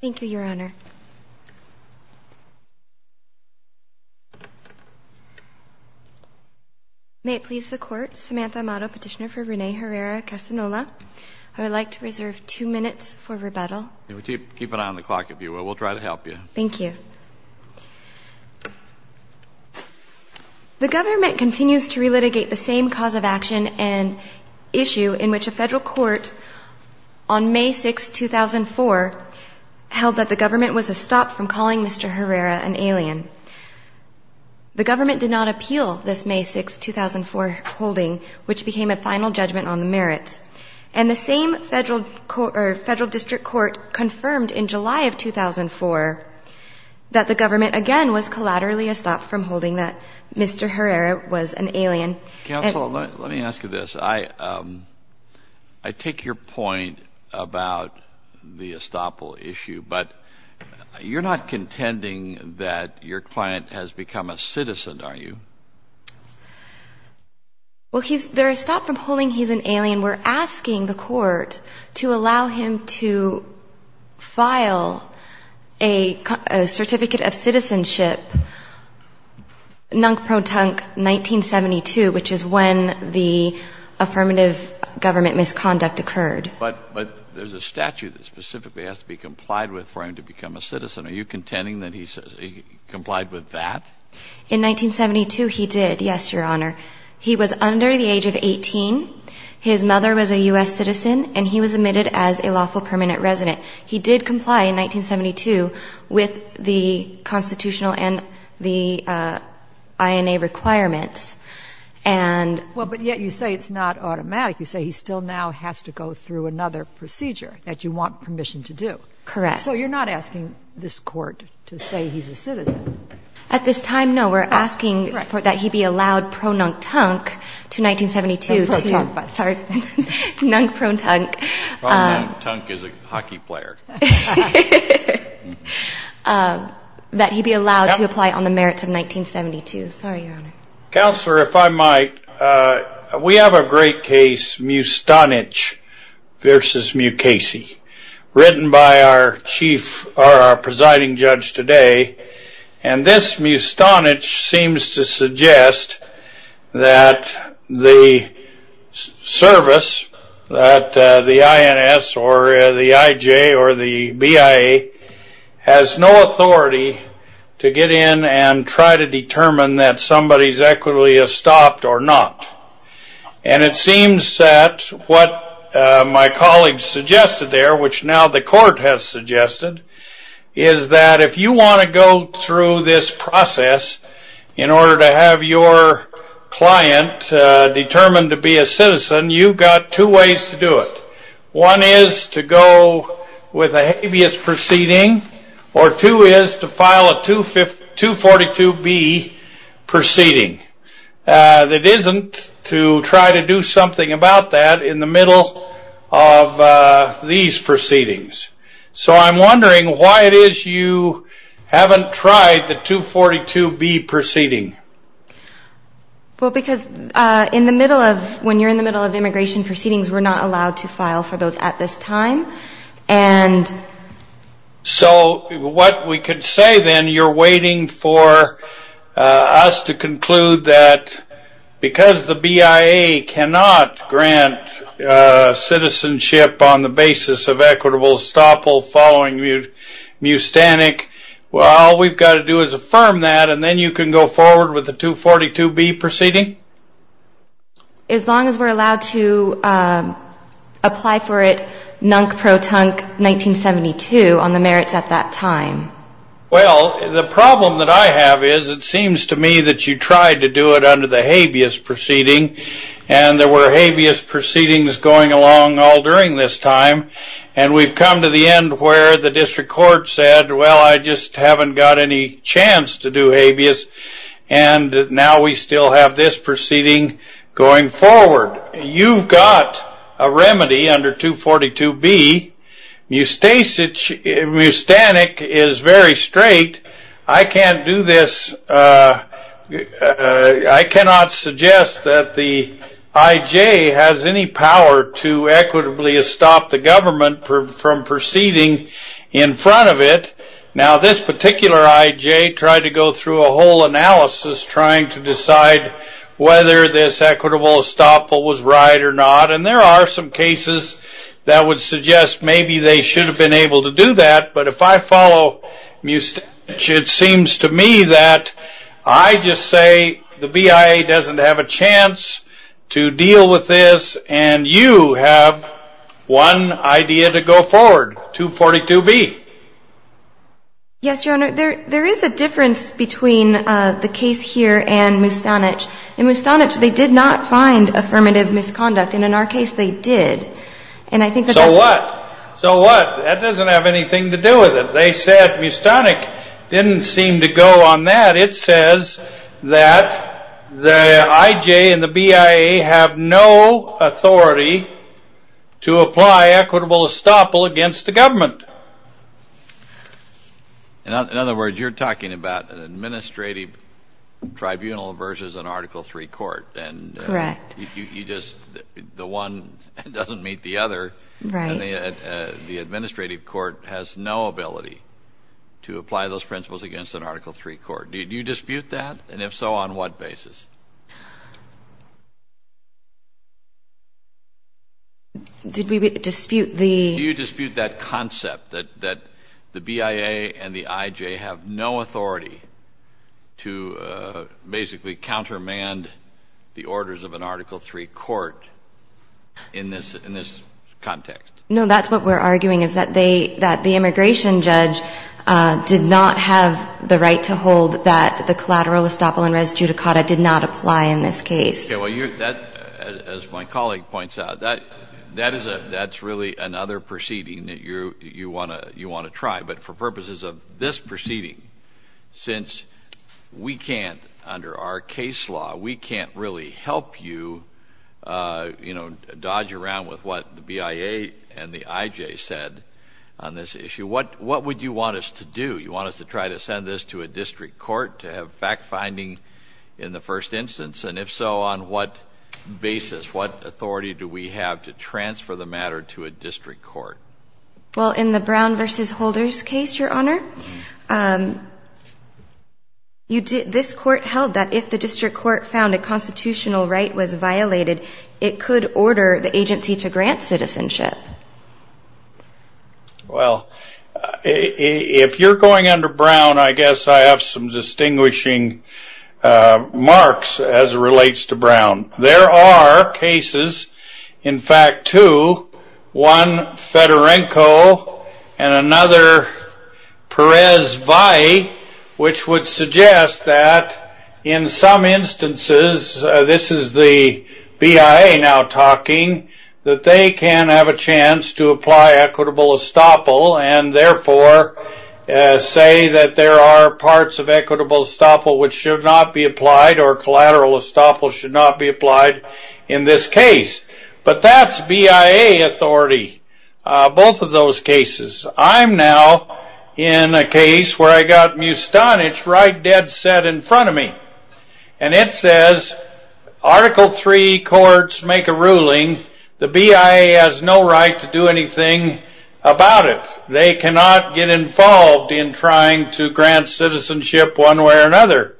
Thank you, Your Honor. May it please the Court, Samantha Amato, petitioner for Rene Herrera-Castanola. I would like to reserve two minutes for rebuttal. Keep an eye on the clock, if you will. We'll try to help you. Thank you. The government continues to relitigate the same cause of action and issue in which a federal court on May 6, 2004, held that the government was a stop from calling Mr. Herrera an alien. The government did not appeal this May 6, 2004, holding, which became a final judgment on the merits. And the same federal district court confirmed in July of 2004 that the government again was collaterally a stop from holding that Mr. Herrera was an alien. Counsel, let me ask you this. I take your point about the estoppel issue, but you're not contending that your client has become a citizen, are you? Well, he's — they're a stop from holding he's an alien. We're asking the court to allow him to file a certificate of citizenship, nunk protunk 1972, which is when the affirmative government misconduct occurred. But there's a statute that specifically has to be complied with for him to become a citizen. Are you contending that he complied with that? In 1972, he did, yes, Your Honor. He was under the age of 18. His mother was a U.S. citizen, and he was admitted as a lawful permanent resident. He did comply in 1972 with the constitutional and the INA requirements. And — Well, but yet you say it's not automatic. You say he still now has to go through another procedure that you want permission to do. Correct. So you're not asking this Court to say he's a citizen. At this time, no. We're asking that he be allowed pro nunk tunk to 1972 to — And protunk. Sorry. Nunk protunk. Protunk is a hockey player. That he be allowed to apply on the merits of 1972. Sorry, Your Honor. Counselor, if I might, we have a great case, Mu Stonich v. Mukasey, written by our chief or our presiding judge today. And this Mu Stonich seems to suggest that the service, that the INS or the IJ or the BIA, has no authority to get in and try to determine that somebody's equity is stopped or not. And it seems that what my colleagues suggested there, which now the Court has suggested, is that if you want to go through this process in order to have your client determined to be a citizen, you've got two ways to do it. One is to go with a habeas proceeding, or two is to file a 242B proceeding that isn't to try to do something about that in the middle of these proceedings. So I'm wondering why it is you haven't tried the 242B proceeding. Well, because in the middle of — when you're in the middle of immigration proceedings, we're not allowed to file for those at this time. So what we could say then, you're waiting for us to conclude that because the BIA cannot grant citizenship on the basis of equitable estoppel following Mu Stonich, well, all we've got to do is affirm that, and then you can go forward with the 242B proceeding? As long as we're allowed to apply for it NUNC protunc 1972 on the merits at that time. Well, the problem that I have is it seems to me that you tried to do it under the habeas proceeding, and there were habeas proceedings going along all during this time, and we've come to the end where the District Court said, well, I just haven't got any chance to do habeas, and now we still have this proceeding going forward. You've got a remedy under 242B. Mu Stonich is very straight. I cannot suggest that the IJ has any power to equitably estop the government from proceeding in front of it. Now, this particular IJ tried to go through a whole analysis trying to decide whether this equitable estoppel was right or not, and there are some cases that would suggest maybe they should have been able to do that, but if I follow Mu Stonich, it seems to me that I just say the BIA doesn't have a chance to deal with this, and you have one idea to go forward, 242B. Yes, Your Honor, there is a difference between the case here and Mu Stonich. In Mu Stonich, they did not find affirmative misconduct, and in our case, they did. So what? So what? That doesn't have anything to do with it. They said Mu Stonich didn't seem to go on that. It says that the IJ and the BIA have no authority to apply equitable estoppel against the government. In other words, you're talking about an administrative tribunal versus an Article III court. Correct. The one doesn't meet the other, and the administrative court has no ability to apply those principles against an Article III court. Do you dispute that, and if so, on what basis? Did we dispute the — in this context? No, that's what we're arguing, is that the immigration judge did not have the right to hold that the collateral estoppel and res judicata did not apply in this case. Okay, well, as my colleague points out, that's really another proceeding that you want to try. But for purposes of this proceeding, since we can't, under our case law, we can't really help you, you know, dodge around with what the BIA and the IJ said on this issue, what would you want us to do? You want us to try to send this to a district court to have fact-finding in the first instance? And if so, on what basis, what authority do we have to transfer the matter to a district court? Well, in the Brown v. Holders case, Your Honor, this court held that if the district court found a constitutional right was violated, it could order the agency to grant citizenship. Well, if you're going under Brown, I guess I have some distinguishing marks as it relates to Brown. There are cases, in fact two, one Fedorenko and another Perez-Valle, which would suggest that in some instances, this is the BIA now talking, that they can have a chance to apply equitable estoppel, and therefore say that there are parts of equitable estoppel which should not be applied, or collateral estoppel should not be applied in this case. But that's BIA authority, both of those cases. I'm now in a case where I got Mustanich right dead set in front of me. And it says, Article III courts make a ruling, the BIA has no right to do anything about it. They cannot get involved in trying to grant citizenship one way or another.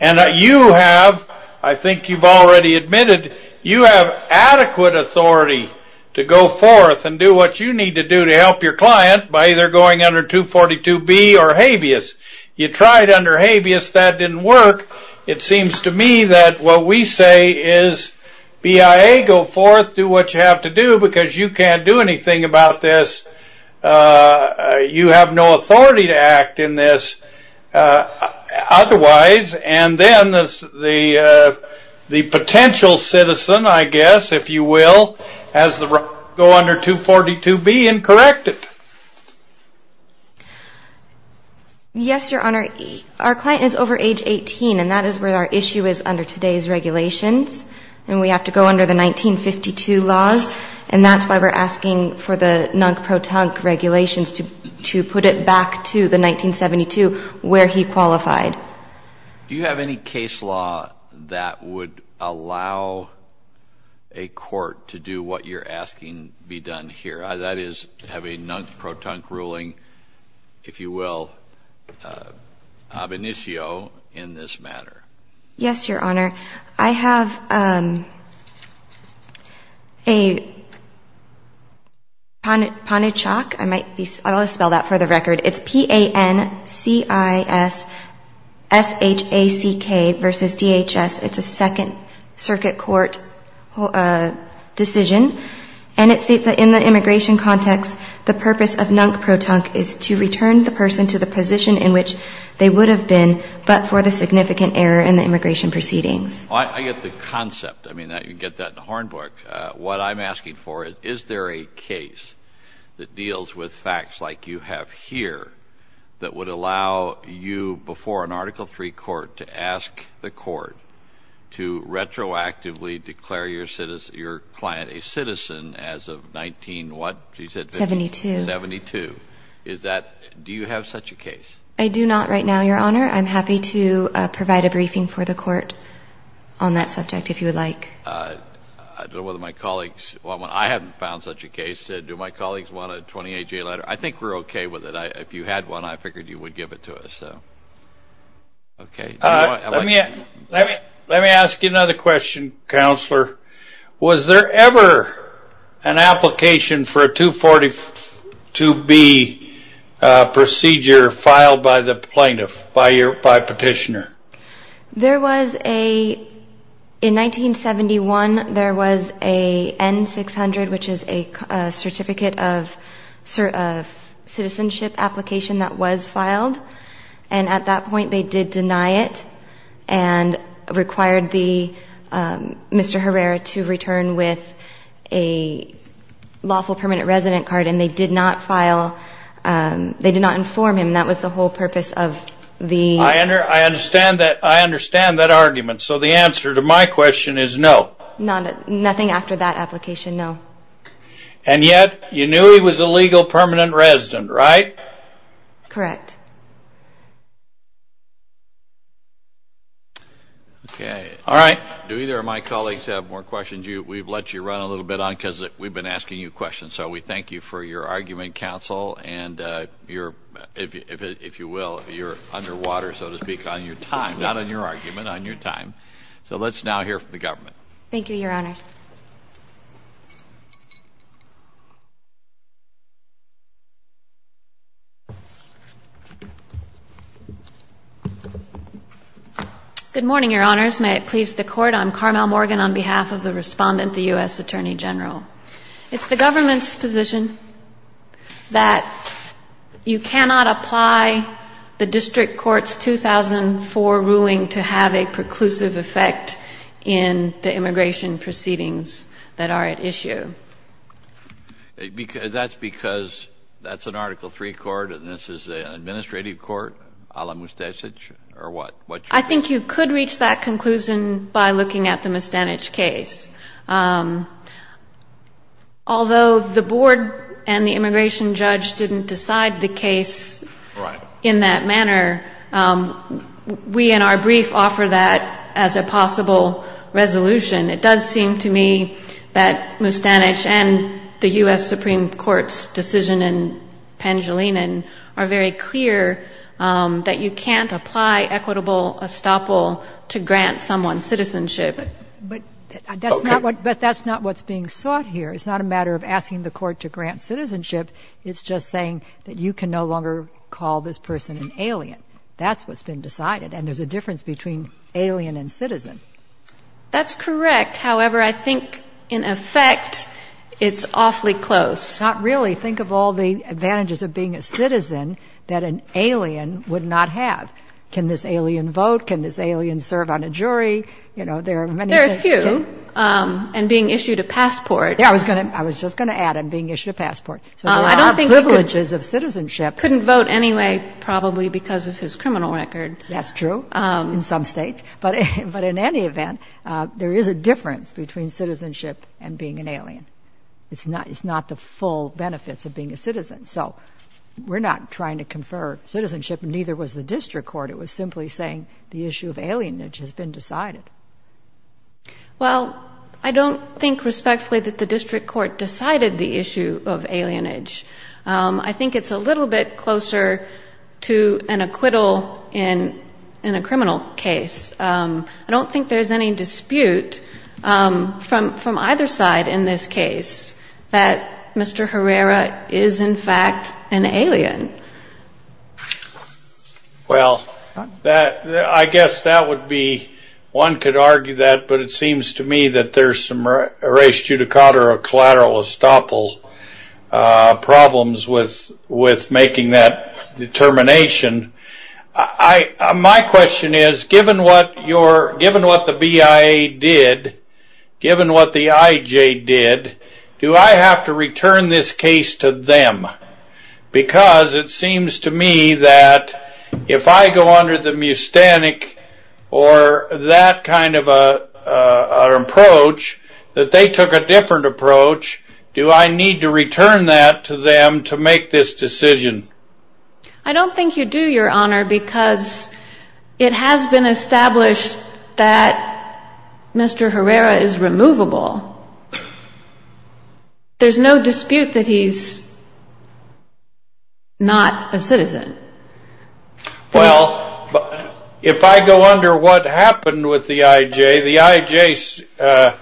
And you have, I think you've already admitted, you have adequate authority to go forth and do what you need to do to help your client by either going under 242B or habeas. You tried under habeas, that didn't work. It seems to me that what we say is, BIA go forth, do what you have to do, because you can't do anything about this. You have no authority to act in this. Otherwise, and then the potential citizen, I guess, if you will, has the right to go under 242B and correct it. Yes, Your Honor. Our client is over age 18, and that is where our issue is under today's regulations. And we have to go under the 1952 laws, and that's why we're asking for the non-pro-tunc regulations to put it back to the 1972 where he qualified. Do you have any case law that would allow a court to do what you're asking be done here? That is, have a non-pro-tunc ruling, if you will, ab initio in this matter. Yes, Your Honor. I have a panchok, I might be, I'll spell that for the record. It's P-A-N-C-I-S-S-H-A-C-K versus D-H-S. It's a second circuit court decision, and it states that in the immigration context, the purpose of non-pro-tunc is to return the person to the position in which they would have been, but for the significant error in the immigration proceedings. I get the concept. I mean, you can get that in a horn book. What I'm asking for, is there a case that deals with facts like you have here that would allow you, before an Article III court, to ask the court to retroactively declare your client a citizen as of 19-what? 72. 72. Do you have such a case? I do not right now, Your Honor. I'm happy to provide a briefing for the court on that subject if you would like. I don't know whether my colleagues want one. I haven't found such a case. Do my colleagues want a 28-J letter? I think we're okay with it. If you had one, I figured you would give it to us. Okay. Let me ask you another question, Counselor. Was there ever an application for a 242B procedure filed by the plaintiff, by petitioner? There was a, in 1971, there was a N-600, which is a certificate of citizenship application that was filed, and at that point they did deny it and required Mr. Herrera to return with a lawful permanent resident card, and they did not file, they did not inform him. That was the whole purpose of the- I understand that argument, so the answer to my question is no. Nothing after that application, no. And yet, you knew he was a legal permanent resident, right? Correct. Okay. All right. Do either of my colleagues have more questions? We've let you run a little bit on because we've been asking you questions, so we thank you for your argument, Counsel, and if you will, you're underwater, so to speak, on your time, not on your argument, on your time. So let's now hear from the government. Thank you, Your Honors. Good morning, Your Honors. May it please the Court. I'm Carmel Morgan on behalf of the Respondent, the U.S. Attorney General. It's the government's position that you cannot apply the district court's 2004 ruling to have a preclusive effect in the immigration proceedings that are at issue. That's because that's an Article III court and this is an administrative court, a la Mustanich, or what? I think you could reach that conclusion by looking at the Mustanich case. Although the board and the immigration judge didn't decide the case in that manner, we in our brief offer that as a possible resolution. It does seem to me that Mustanich and the U.S. Supreme Court's decision in Pangilinan are very clear that you can't apply equitable estoppel to grant someone citizenship. But that's not what's being sought here. It's not a matter of asking the court to grant citizenship. It's just saying that you can no longer call this person an alien. That's what's been decided, and there's a difference between alien and citizen. That's correct. However, I think in effect it's awfully close. Not really. Think of all the advantages of being a citizen that an alien would not have. Can this alien vote? Can this alien serve on a jury? You know, there are many things. There are a few. And being issued a passport. Yeah, I was just going to add, and being issued a passport. So there are privileges of citizenship. Couldn't vote anyway probably because of his criminal record. That's true in some states. But in any event, there is a difference between citizenship and being an alien. It's not the full benefits of being a citizen. So we're not trying to confer citizenship, and neither was the district court. It was simply saying the issue of alienage has been decided. Well, I don't think respectfully that the district court decided the issue of alienage. I think it's a little bit closer to an acquittal in a criminal case. I don't think there's any dispute from either side in this case that Mr. Herrera is, in fact, an alien. Well, I guess that would be, one could argue that. But it seems to me that there's some res judicata or collateral estoppel problems with making that determination. My question is, given what the BIA did, given what the IJ did, do I have to return this case to them? Because it seems to me that if I go under the mustanic or that kind of an approach, that they took a different approach, do I need to return that to them to make this decision? I don't think you do, Your Honor, because it has been established that Mr. Herrera is removable. There's no dispute that he's not a citizen. Well, if I go under what happened with the IJ, the IJ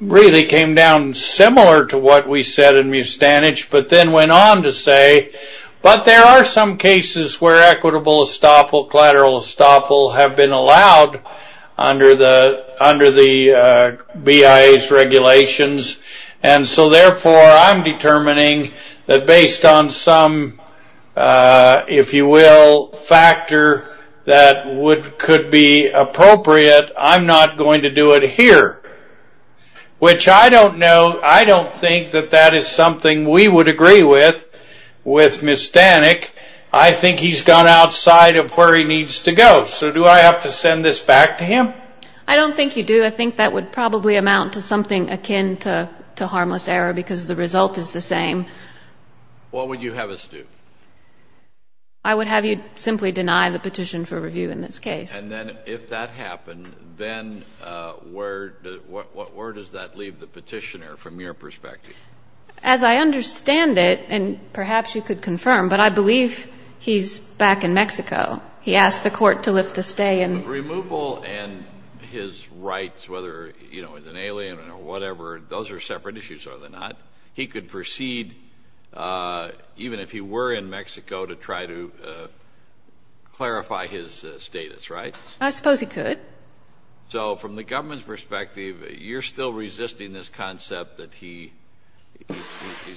really came down similar to what we said in Mustanich, but then went on to say, but there are some cases where equitable estoppel, collateral estoppel, have been allowed under the BIA's regulations. And so, therefore, I'm determining that based on some, if you will, factor that could be appropriate, I'm not going to do it here, which I don't know. I don't think that that is something we would agree with, with Mustanich. I think he's gone outside of where he needs to go, so do I have to send this back to him? I don't think you do. I think that would probably amount to something akin to harmless error because the result is the same. What would you have us do? I would have you simply deny the petition for review in this case. And then if that happened, then where does that leave the petitioner from your perspective? As I understand it, and perhaps you could confirm, but I believe he's back in Mexico. He asked the court to lift the stay. Removal and his rights, whether he's an alien or whatever, those are separate issues, are they not? He could proceed, even if he were in Mexico, to try to clarify his status, right? I suppose he could. So from the government's perspective, you're still resisting this concept that he's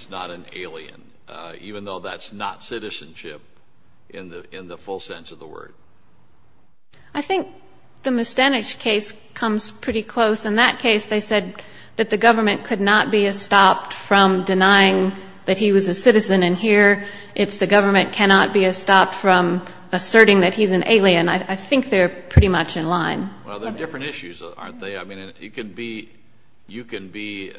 not an alien, even though that's not citizenship in the full sense of the word. I think the Mustanich case comes pretty close. In that case, they said that the government could not be stopped from denying that he was a citizen. And here it's the government cannot be stopped from asserting that he's an alien. I think they're pretty much in line. Well, they're different issues, aren't they? I mean, you can be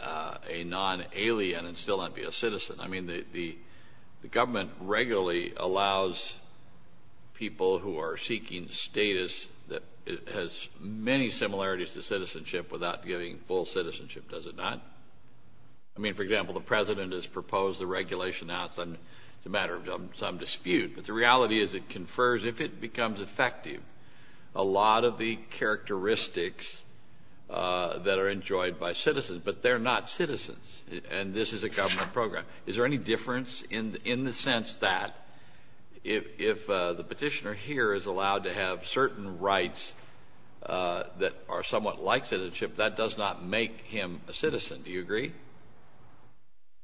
a non-alien and still not be a citizen. I mean, the government regularly allows people who are seeking status that has many similarities to citizenship without giving full citizenship, does it not? I mean, for example, the president has proposed the regulation. Now it's a matter of some dispute. But the reality is it confers, if it becomes effective, a lot of the characteristics that are enjoyed by citizens. But they're not citizens. And this is a government program. Is there any difference in the sense that if the petitioner here is allowed to have certain rights that are somewhat like citizenship, that does not make him a citizen, do you agree?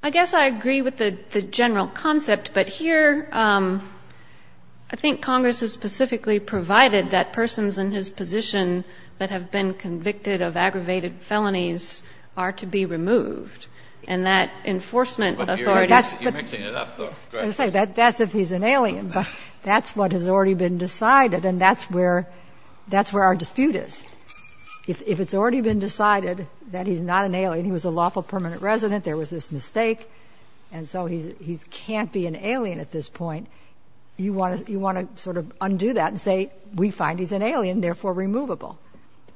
I guess I agree with the general concept. But here I think Congress has specifically provided that persons in his position that have been convicted of aggravated felonies are to be removed. And that enforcement authority — You're mixing it up, though. Go ahead. That's if he's an alien. But that's what has already been decided. And that's where our dispute is. If it's already been decided that he's not an alien, he was a lawful permanent resident, there was this mistake, and so he can't be an alien at this point, you want to sort of undo that and say, we find he's an alien, therefore removable.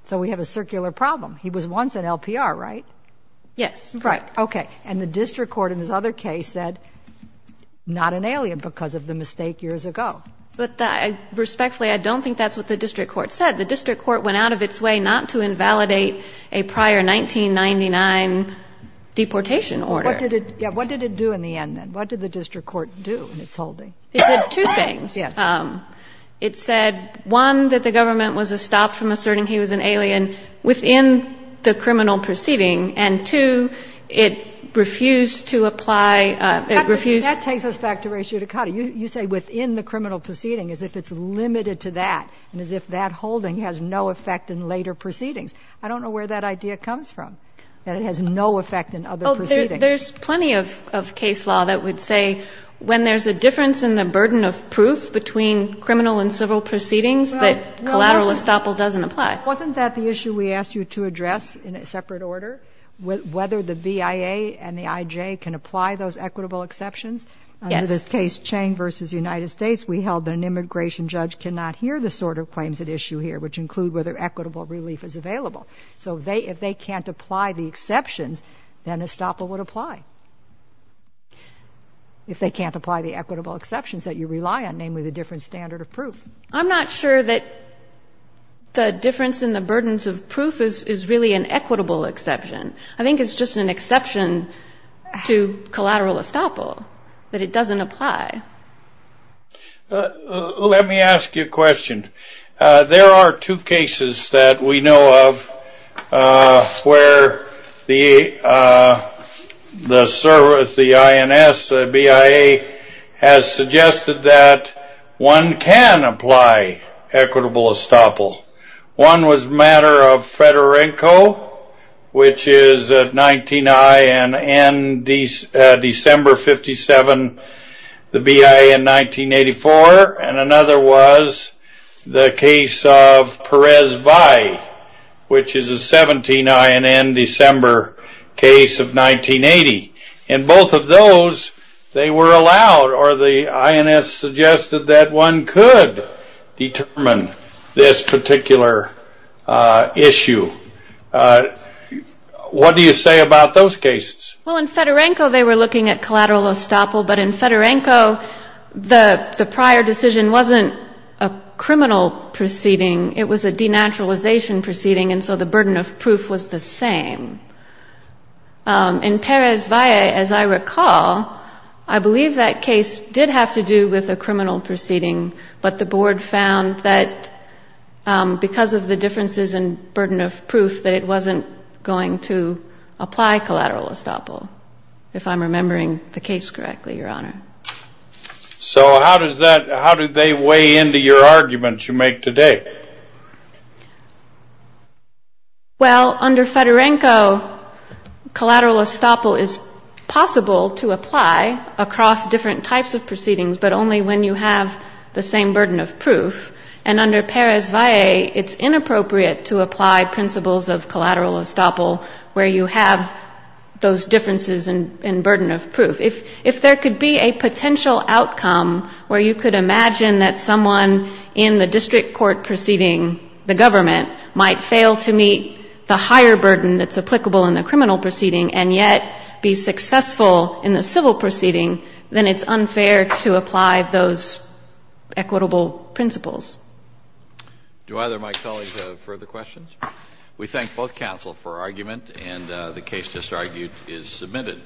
So we have a circular problem. He was once an LPR, right? Yes. Right. Okay. And the district court in this other case said, not an alien because of the mistake years ago. But respectfully, I don't think that's what the district court said. The district court went out of its way not to invalidate a prior 1999 deportation order. What did it do in the end, then? What did the district court do in its holding? It did two things. Yes. It said, one, that the government was estopped from asserting he was an alien within the criminal proceeding, and, two, it refused to apply — That takes us back to res judicata. You say within the criminal proceeding, as if it's limited to that, and as if that holding has no effect in later proceedings. I don't know where that idea comes from, that it has no effect in other proceedings. Oh, there's plenty of case law that would say when there's a difference in the burden of proof between criminal and civil proceedings, that collateral estoppel doesn't apply. Wasn't that the issue we asked you to address in a separate order, whether the BIA and the IJ can apply those equitable exceptions? Yes. In this case, Chang v. United States, we held that an immigration judge cannot hear the sort of claims at issue here, which include whether equitable relief is available. So if they can't apply the exceptions, then estoppel would apply. If they can't apply the equitable exceptions that you rely on, namely the different standard of proof. I'm not sure that the difference in the burdens of proof is really an equitable exception. I think it's just an exception to collateral estoppel, that it doesn't apply. Let me ask you a question. There are two cases that we know of where the service, the INS, the BIA, has suggested that one can apply equitable estoppel. One was a matter of Fedorenko, which is 19I and December 57, the BIA in 1984. And another was the case of Perez-Valle, which is a 17I and end December case of 1980. And both of those, they were allowed, or the INS suggested that one could determine this particular issue. What do you say about those cases? Well, in Fedorenko, they were looking at collateral estoppel. But in Fedorenko, the prior decision wasn't a criminal proceeding. It was a denaturalization proceeding, and so the burden of proof was the same. In Perez-Valle, as I recall, I believe that case did have to do with a criminal proceeding, but the board found that because of the differences in burden of proof, that it wasn't going to apply collateral estoppel, if I'm remembering the case correctly, Your Honor. So how does that, how do they weigh into your argument you make today? Well, under Fedorenko, collateral estoppel is possible to apply across different types of proceedings, but only when you have the same burden of proof, and under Perez-Valle, it's inappropriate to apply principles of collateral estoppel where you have those differences in burden of proof. If there could be a potential outcome where you could imagine that someone in the district court proceeding, the government, might fail to meet the higher burden that's applicable in the district court, it would be unfair to apply those equitable principles. Do either of my colleagues have further questions? We thank both counsel for argument, and the case just argued is submitted.